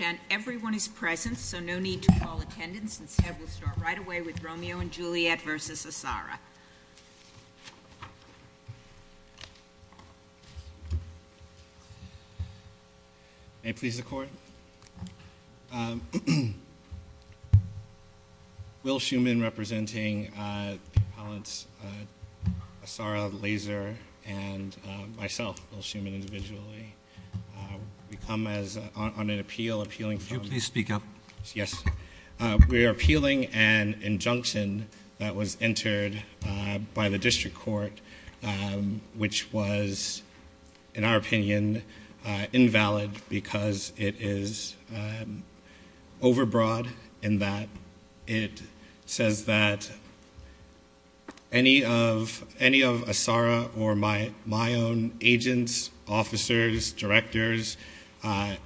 And everyone is present, so no need to call attendance, and we'll start right away with Romeo & Juliette v. Asara. May it please the Court? Will Schuman, representing the appellants Asara, Laser, and myself, Will Schuman, individually, come as, on an appeal, appealing for... Could you please speak up? Yes. We are appealing an injunction that was entered by the District Court, which was, in our opinion, invalid because it is overbroad in that it says that any of Asara or my own agents, officers, directors,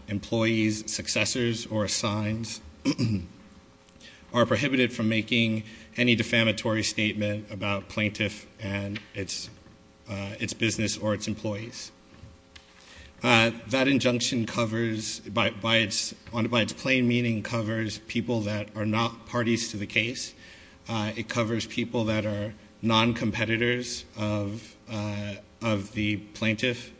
employees, successors, or assigns, are prohibited from making any defamatory statement about plaintiff and its business or its employees. That injunction covers, by its plain meaning, covers people that are not parties to the case. It covers people that are non-competitors of the plaintiff.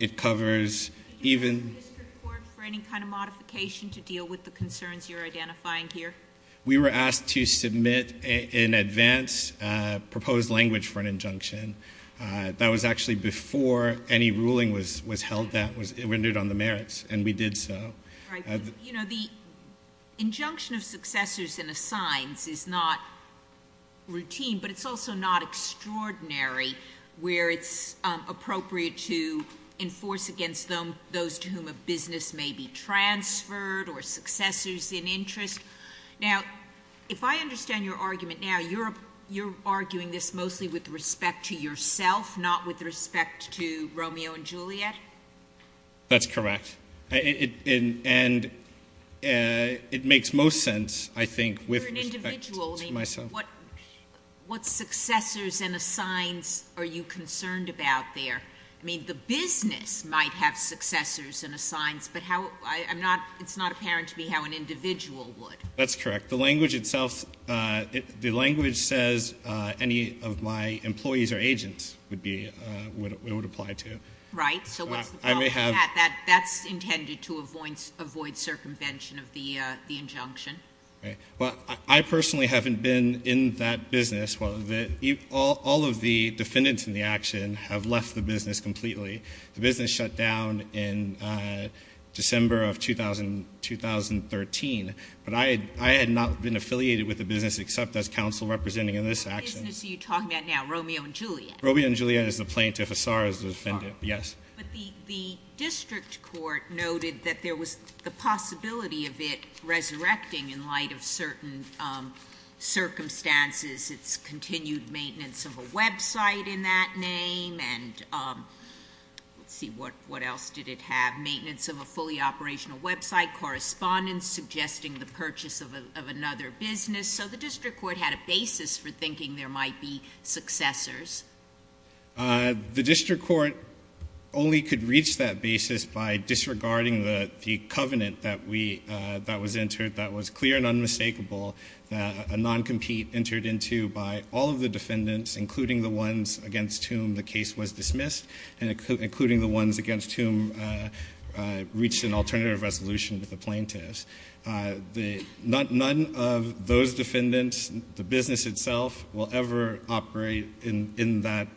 It covers even... Did you ask the District Court for any kind of modification to deal with the concerns you're identifying here? We were asked to submit, in advance, proposed language for an injunction. That was actually before any ruling was held that was rendered on the merits, and we did so. You know, the injunction of successors and assigns is not routine, but it's also not extraordinary where it's appropriate to enforce against those to whom a business may be transferred or successors in interest. Now, if I understand your argument now, you're arguing this mostly with respect to yourself, not with respect to Romeo and Juliet? That's correct. And it makes most sense, I think, with respect to myself. For an individual, I mean, what successors and assigns are you concerned about there? I mean, the business might have successors and assigns, but it's not apparent to me how an individual would. That's correct. The language itself, the language says any of my employees or agents would apply to. Right. So what's the problem with that? That's intended to avoid circumvention of the injunction. Right. Well, I personally haven't been in that business. All of the defendants in the action have left the business completely. The business shut down in December of 2013, but I had not been affiliated with the business except as counsel representing in this action. What business are you talking about now, Romeo and Juliet? Romeo and Juliet is the plaintiff. Assar is the defendant, yes. But the district court noted that there was the possibility of it resurrecting in light of certain circumstances. It's continued maintenance of a website in that name, and let's see, what else did it have? Maintenance of a fully operational website, correspondence suggesting the purchase of another business. So the district court had a basis for thinking there might be successors. The district court only could reach that basis by disregarding the covenant that was entered, that was clear and unmistakable, a non-compete entered into by all of the defendants, including the ones against whom the case was dismissed, and including the ones against whom reached an alternative resolution with the plaintiffs. None of those defendants, the business itself, will ever operate in that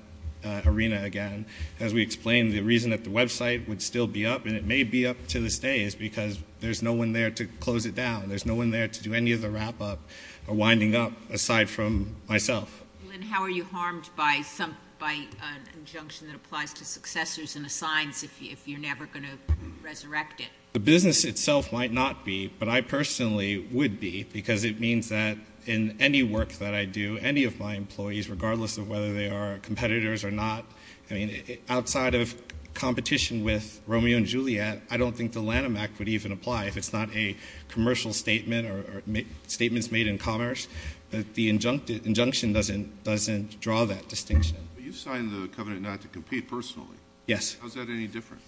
arena again. As we explained, the reason that the website would still be up, and it may be up to this day, is because there's no one there to close it down. There's no one there to do any of the wrap-up or winding up aside from myself. How are you harmed by an injunction that applies to successors and assigns if you're never going to resurrect it? The business itself might not be, but I personally would be, because it means that in any work that I do, any of my employees, regardless of whether they are competitors or not, I mean, outside of competition with Romeo and Juliet, I don't think the Lanham Act would even apply if it's not a commercial statement or statements made in commerce. The injunction doesn't draw that distinction. You signed the covenant not to compete personally. Yes. How is that any different?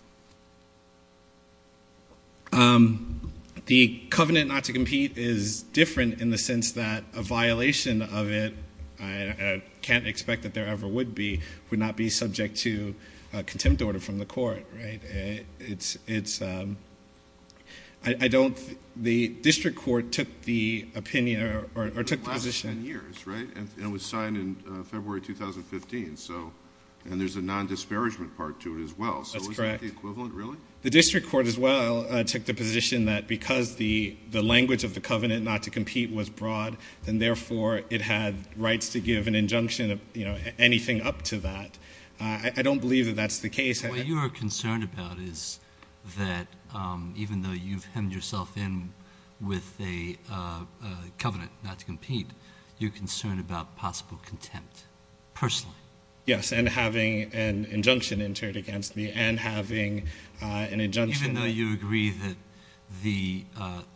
The covenant not to compete is different in the sense that a violation of it, I can't expect that there ever would be, would not be subject to contempt order from the court. Right? It's ‑‑ I don't ‑‑ the district court took the opinion or took the position. It lasted 10 years. Right? And it was signed in February 2015. And there's a nondisparagement part to it as well. That's correct. So isn't that the equivalent, really? The district court as well took the position that because the language of the covenant not to compete was broad, then therefore it had rights to give an injunction of anything up to that. I don't believe that that's the case. What you are concerned about is that even though you've hemmed yourself in with a covenant not to compete, you're concerned about possible contempt personally. Yes, and having an injunction entered against me and having an injunction ‑‑ Even though you agree that the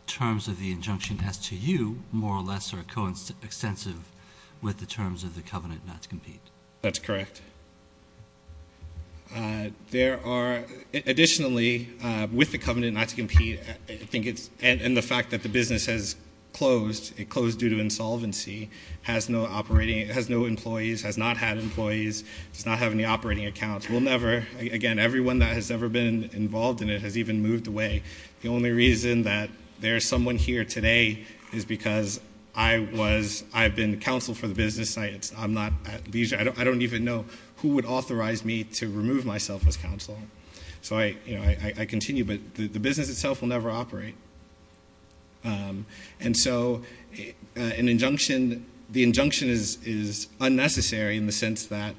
terms of the injunction as to you, more or less, are coextensive with the terms of the covenant not to compete. That's correct. There are additionally, with the covenant not to compete, I think it's ‑‑ And the fact that the business has closed. It closed due to insolvency. It has no employees. It has not had employees. It does not have any operating accounts. We'll never, again, everyone that has ever been involved in it has even moved away. The only reason that there is someone here today is because I've been counsel for the business. I'm not at leisure. I don't even know who would authorize me to remove myself as counsel. So I continue, but the business itself will never operate. And so an injunction, the injunction is unnecessary in the sense that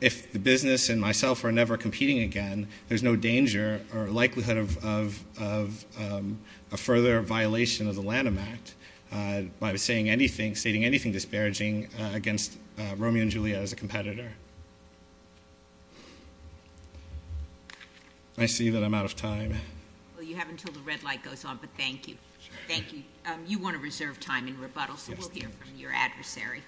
if the business and myself are never competing again, there's no danger or likelihood of a further violation of the Lanham Act by stating anything disparaging against Romeo and Juliet as a competitor. I see that I'm out of time. Well, you have until the red light goes on, but thank you. Thank you. You want to reserve time in rebuttal, so we'll hear from your adversary.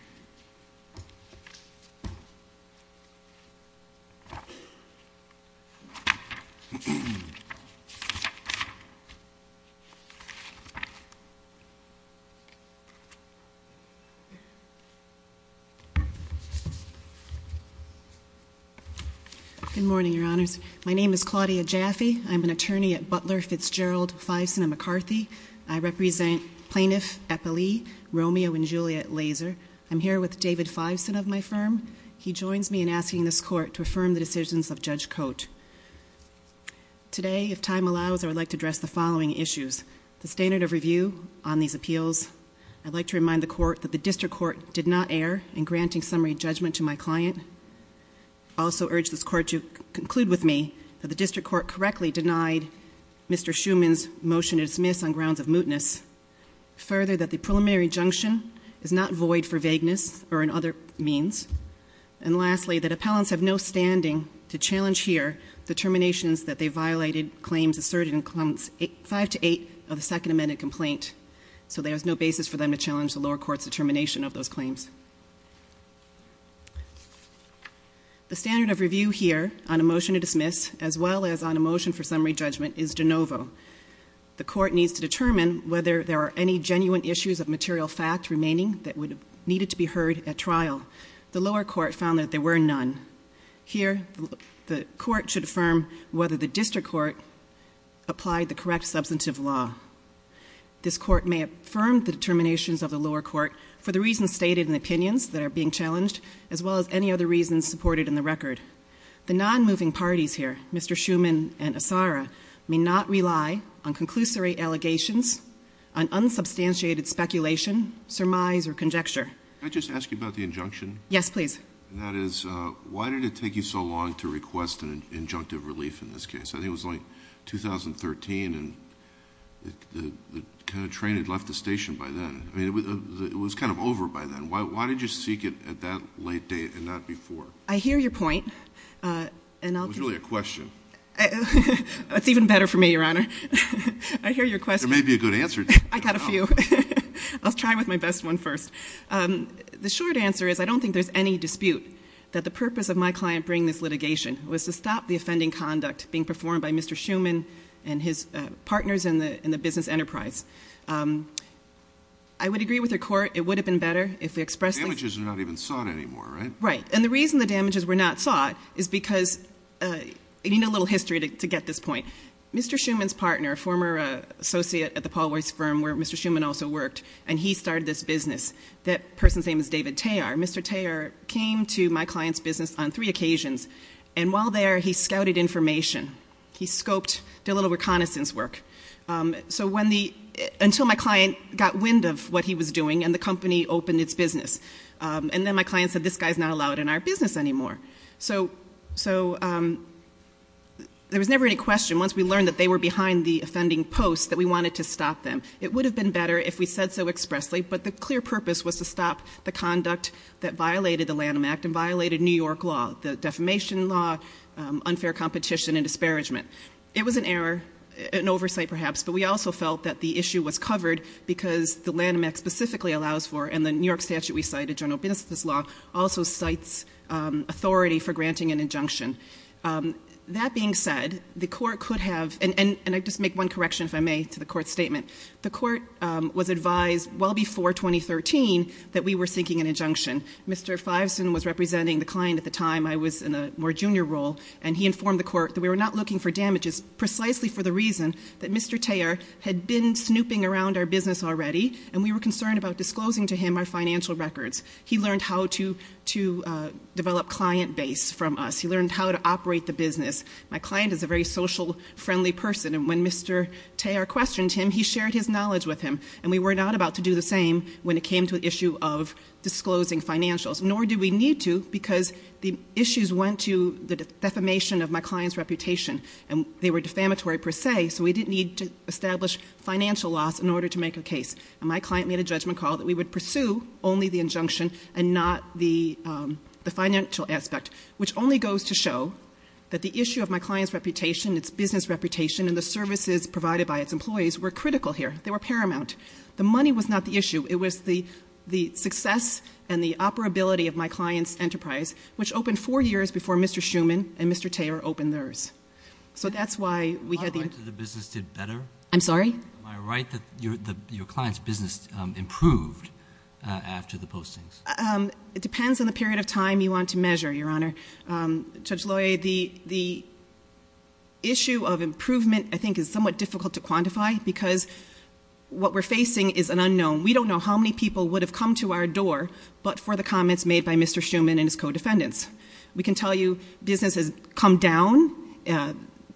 Good morning, Your Honors. My name is Claudia Jaffe. I'm an attorney at Butler, Fitzgerald, Fiveson & McCarthy. I represent Plaintiff Eppley, Romeo and Juliet Laser. I'm here with David Fiveson of my firm. He joins me in asking this court to affirm the decisions of Judge Cote. Today, if time allows, I would like to address the following issues. First, the standard of review on these appeals. I'd like to remind the court that the district court did not err in granting summary judgment to my client. I also urge this court to conclude with me that the district court correctly denied Mr. Schuman's motion to dismiss on grounds of mootness. Further, that the preliminary injunction is not void for vagueness or in other means. And lastly, that appellants have no standing to challenge here the terminations that they violated claims asserted in Clause 5 to 8 of the Second Amended Complaint. So there is no basis for them to challenge the lower court's determination of those claims. The standard of review here on a motion to dismiss, as well as on a motion for summary judgment, is de novo. The court needs to determine whether there are any genuine issues of material fact remaining that needed to be heard at trial. The lower court found that there were none. Here, the court should affirm whether the district court applied the correct substantive law. This court may affirm the determinations of the lower court for the reasons stated in the opinions that are being challenged, as well as any other reasons supported in the record. The non-moving parties here, Mr. Schuman and Assara, may not rely on conclusory allegations, on unsubstantiated speculation, surmise, or conjecture. Can I just ask you about the injunction? Yes, please. That is, why did it take you so long to request an injunctive relief in this case? I think it was like 2013, and the kind of train had left the station by then. I mean, it was kind of over by then. Why did you seek it at that late date and not before? I hear your point. It was really a question. It's even better for me, Your Honor. I hear your question. There may be a good answer to it. I've got a few. I'll try with my best one first. The short answer is I don't think there's any dispute that the purpose of my client bringing this litigation was to stop the offending conduct being performed by Mr. Schuman and his partners in the business enterprise. I would agree with the court it would have been better if we expressed the The damages are not even sought anymore, right? Right. And the reason the damages were not sought is because you need a little history to get this point. Mr. Schuman's partner, a former associate at the Paul Weiss firm where Mr. Schuman also worked, and he started this business, that person's name is David Tayar. Mr. Tayar came to my client's business on three occasions, and while there he scouted information. He scoped, did a little reconnaissance work. So until my client got wind of what he was doing and the company opened its business, and then my client said this guy's not allowed in our business anymore. So there was never any question once we learned that they were behind the offending post that we wanted to stop them. It would have been better if we said so expressly, but the clear purpose was to stop the conduct that violated the Lanham Act and violated New York law, the defamation law, unfair competition, and disparagement. It was an error, an oversight perhaps, but we also felt that the issue was covered because the Lanham Act specifically allows for, and the New York statute we cite, a general business law, also cites authority for granting an injunction. That being said, the court could have, and I'll just make one correction if I may to the court's statement. The court was advised well before 2013 that we were seeking an injunction. Mr. Fiveson was representing the client at the time. I was in a more junior role, and he informed the court that we were not looking for damages precisely for the reason that Mr. Thayer had been snooping around our business already, and we were concerned about disclosing to him our financial records. He learned how to develop client base from us. He learned how to operate the business. My client is a very social, friendly person, and when Mr. Thayer questioned him, he shared his knowledge with him, and we were not about to do the same when it came to the issue of disclosing financials, nor did we need to because the issues went to the defamation of my client's reputation, and they were defamatory per se, so we didn't need to establish financial loss in order to make a case. And my client made a judgment call that we would pursue only the injunction and not the financial aspect, which only goes to show that the issue of my client's reputation, its business reputation, and the services provided by its employees were critical here. They were paramount. The money was not the issue. It was the success and the operability of my client's enterprise, which opened four years before Mr. Schuman and Mr. Thayer opened theirs. So that's why we had the injunction. Am I right that the business did better? I'm sorry? Am I right that your client's business improved after the postings? It depends on the period of time you want to measure, Your Honor. Judge Loy, the issue of improvement I think is somewhat difficult to quantify because what we're facing is an unknown. We don't know how many people would have come to our door but for the comments made by Mr. Schuman and his co-defendants. We can tell you business has come down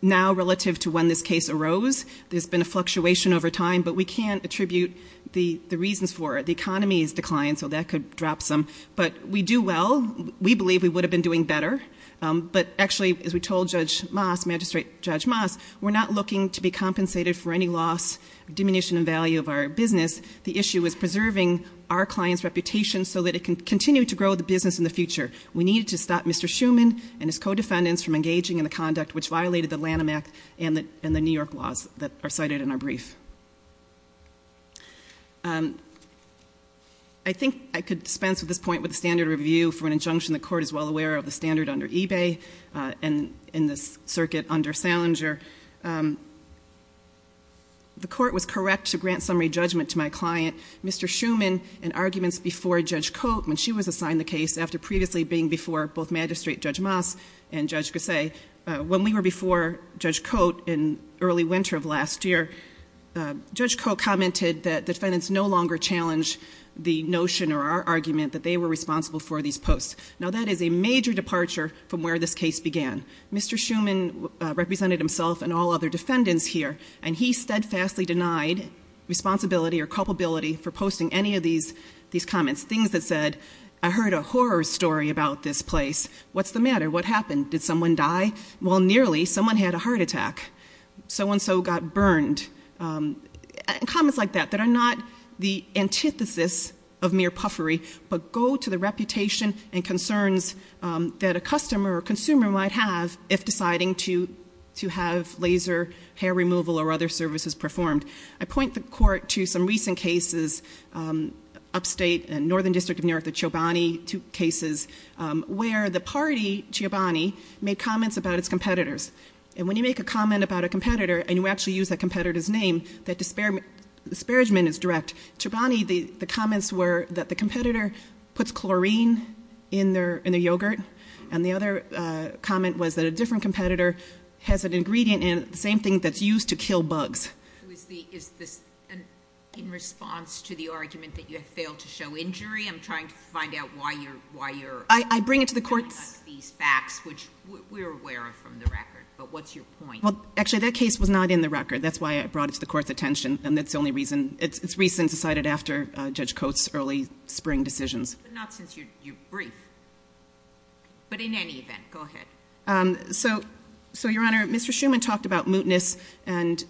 now relative to when this case arose. There's been a fluctuation over time, but we can't attribute the reasons for it. The economy has declined, so that could drop some. But we do well. We believe we would have been doing better. But actually, as we told Judge Moss, Magistrate Judge Moss, we're not looking to be compensated for any loss, diminution in value of our business. The issue is preserving our client's reputation so that it can continue to grow the business in the future. We needed to stop Mr. Schuman and his co-defendants from engaging in the conduct which violated the Lanham Act and the New York laws that are cited in our brief. I think I could dispense with this point with the standard review for an injunction. The Court is well aware of the standard under eBay and in this circuit under Salinger. The Court was correct to grant summary judgment to my client, Mr. Schuman, in arguments before Judge Cote when she was assigned the case, after previously being before both Magistrate Judge Moss and Judge Gosset. When we were before Judge Cote in early winter of last year, Judge Cote commented that defendants no longer challenge the notion or our argument that they were responsible for these posts. Now, that is a major departure from where this case began. Mr. Schuman represented himself and all other defendants here, and he steadfastly denied responsibility or culpability for posting any of these comments, things that said, I heard a horror story about this place. What's the matter? What happened? Did someone die? Well, nearly. Someone had a heart attack. So-and-so got burned. Comments like that, that are not the antithesis of mere puffery, but go to the reputation and concerns that a customer or consumer might have if deciding to have laser hair removal or other services performed. I point the Court to some recent cases, Upstate and Northern District of New York, the Chobani cases, where the party, Chobani, made comments about its competitors. And when you make a comment about a competitor, and you actually use that competitor's name, that disparagement is direct. Chobani, the comments were that the competitor puts chlorine in their yogurt, and the other comment was that a different competitor has an ingredient in it, the same thing that's used to kill bugs. Is this in response to the argument that you have failed to show injury? I'm trying to find out why you're bringing up these facts, which we're aware of from the record. But what's your point? Actually, that case was not in the record. That's why I brought it to the Court's attention, and it's recent and cited after Judge Coates' early spring decisions. But not since you're brief. But in any event, go ahead. So, Your Honor, Mr. Shuman talked about mootness, and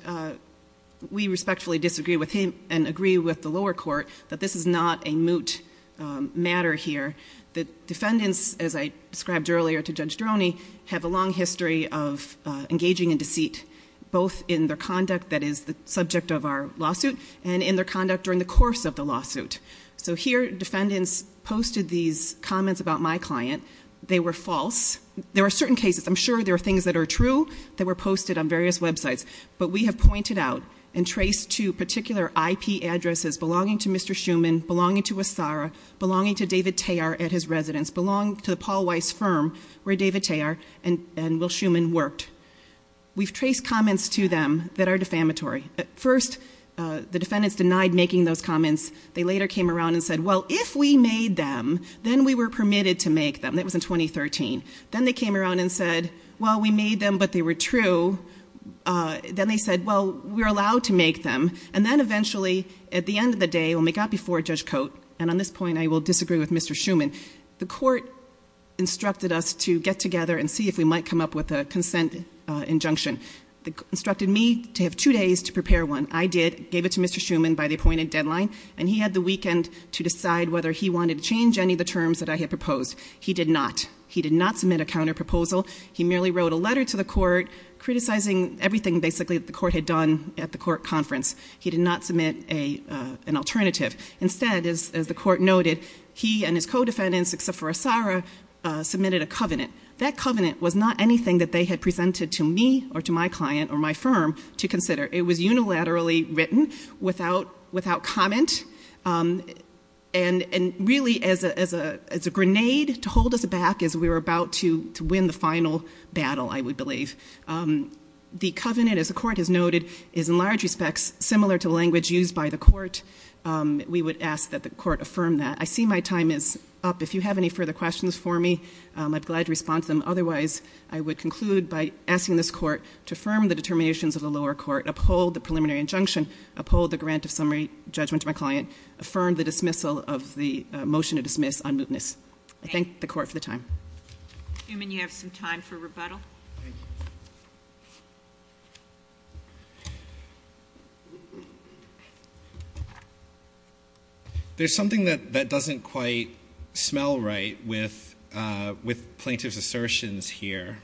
we respectfully disagree with him and agree with the lower court that this is not a moot matter here. The defendants, as I described earlier to Judge Droney, have a long history of engaging in deceit, both in their conduct that is the subject of our lawsuit and in their conduct during the course of the lawsuit. So here, defendants posted these comments about my client. They were false. There are certain cases, I'm sure there are things that are true, that were posted on various websites. But we have pointed out and traced to particular IP addresses belonging to Mr. Shuman, belonging to Wassara, belonging to David Tayar at his residence, belonging to the Paul Weiss firm where David Tayar and Will Shuman worked. We've traced comments to them that are defamatory. First, the defendants denied making those comments. They later came around and said, well, if we made them, then we were permitted to make them. That was in 2013. Then they came around and said, well, we made them, but they were true. Then they said, well, we're allowed to make them. And then eventually, at the end of the day, when we got before Judge Coates, and on this point I will disagree with Mr. Shuman, the court instructed us to get together and see if we might come up with a consent injunction. It instructed me to have two days to prepare one. I did, gave it to Mr. Shuman by the appointed deadline, and he had the weekend to decide whether he wanted to change any of the terms that I had proposed. He did not. He did not submit a counterproposal. He merely wrote a letter to the court criticizing everything, basically, that the court had done at the court conference. He did not submit an alternative. Instead, as the court noted, he and his co-defendants, except for Assara, submitted a covenant. That covenant was not anything that they had presented to me or to my client or my firm to consider. It was unilaterally written without comment, and really as a grenade to hold us back as we were about to win the final battle, I would believe. The covenant, as the court has noted, is in large respects similar to the language used by the court. We would ask that the court affirm that. I see my time is up. If you have any further questions for me, I'd be glad to respond to them. Otherwise, I would conclude by asking this court to affirm the determinations of the lower court, uphold the preliminary injunction, uphold the grant of summary judgment to my client, affirm the dismissal of the motion to dismiss on mootness. I thank the court for the time. Newman, you have some time for rebuttal. Thank you. There's something that doesn't quite smell right with plaintiff's assertions here.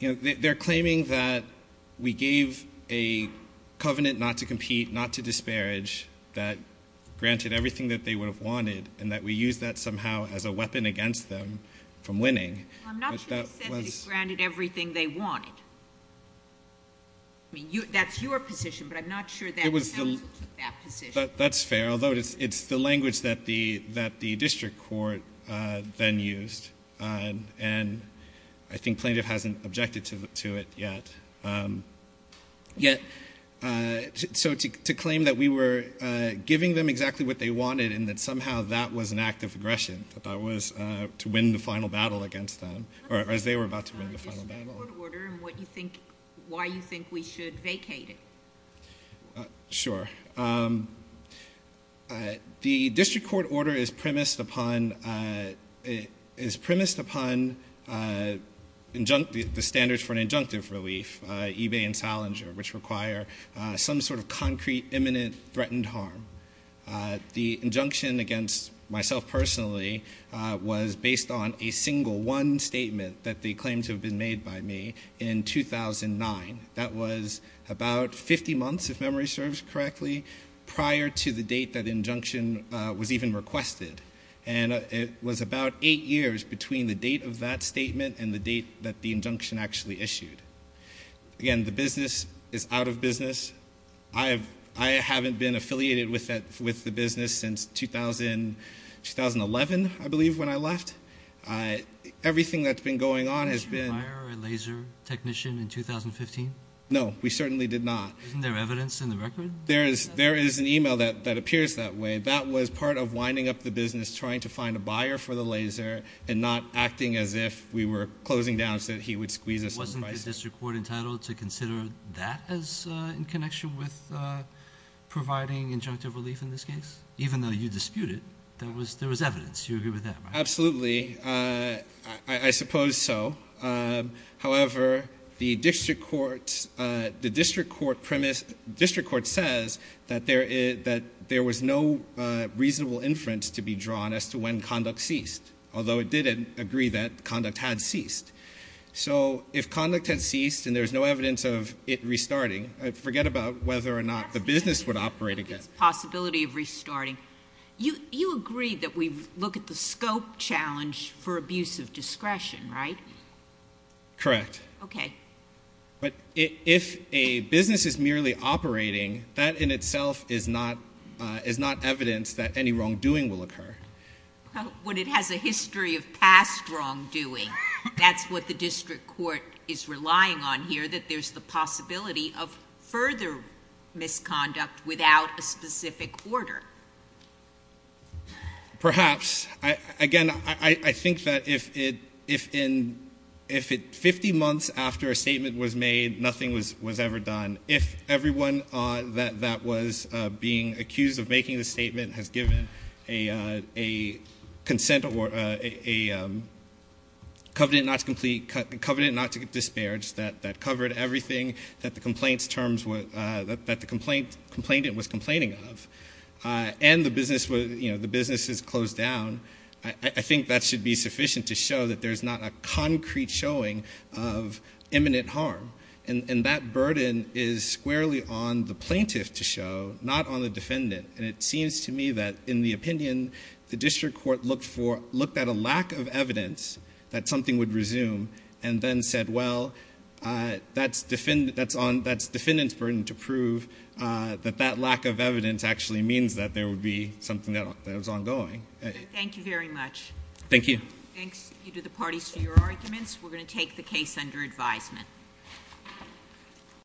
They're claiming that we gave a covenant not to compete, not to disparage, that granted everything that they would have wanted, and that we used that somehow as a weapon against them from winning. I'm not sure they said they granted everything they wanted. That's your position, but I'm not sure that counsel took that position. That's fair, although it's the language that the district court then used, and I think plaintiff hasn't objected to it yet. So to claim that we were giving them exactly what they wanted and that somehow that was an act of aggression, that that was to win the final battle against them, or as they were about to win the final battle. Why do you think we should vacate it? Sure. The district court order is premised upon the standards for an injunctive relief, eBay and Salinger, which require some sort of concrete, imminent, threatened harm. The injunction against myself personally was based on a single one statement that they claimed to have been made by me in 2009. That was about 50 months, if memory serves correctly, prior to the date that injunction was even requested, and it was about eight years between the date of that statement and the date that the injunction actually issued. Again, the business is out of business. I haven't been affiliated with the business since 2011, I believe, when I left. Everything that's been going on has been- Did you hire a laser technician in 2015? No, we certainly did not. Isn't there evidence in the record? There is an e-mail that appears that way. That was part of winding up the business, trying to find a buyer for the laser and not acting as if we were closing down so that he would squeeze us some advice. Wasn't the district court entitled to consider that in connection with providing injunctive relief in this case? Even though you disputed, there was evidence. You agree with that? Absolutely. I suppose so. However, the district court says that there was no reasonable inference to be drawn as to when conduct ceased, although it did agree that conduct had ceased. So if conduct had ceased and there was no evidence of it restarting, forget about whether or not the business would operate again. There's a possibility of restarting. You agree that we look at the scope challenge for abuse of discretion, right? Correct. Okay. But if a business is merely operating, that in itself is not evidence that any wrongdoing will occur. When it has a history of past wrongdoing, that's what the district court is relying on here, that there's the possibility of further misconduct without a specific order. Perhaps. Again, I think that if 50 months after a statement was made, nothing was ever done, if everyone that was being accused of making the statement has given a consent or a covenant not to complete, covenant not to disparage, that covered everything that the complainant was complaining of, and the business is closed down, I think that should be sufficient to show that there's not a concrete showing of imminent harm. And that burden is squarely on the plaintiff to show, not on the defendant. And it seems to me that, in the opinion the district court looked for, looked at a lack of evidence that something would resume and then said, well, that's defendant's burden to prove that that lack of evidence actually means that there would be something that was ongoing. Thank you very much. Thank you. Thanks to the parties for your arguments. We're going to take the case under advisement. Thank you.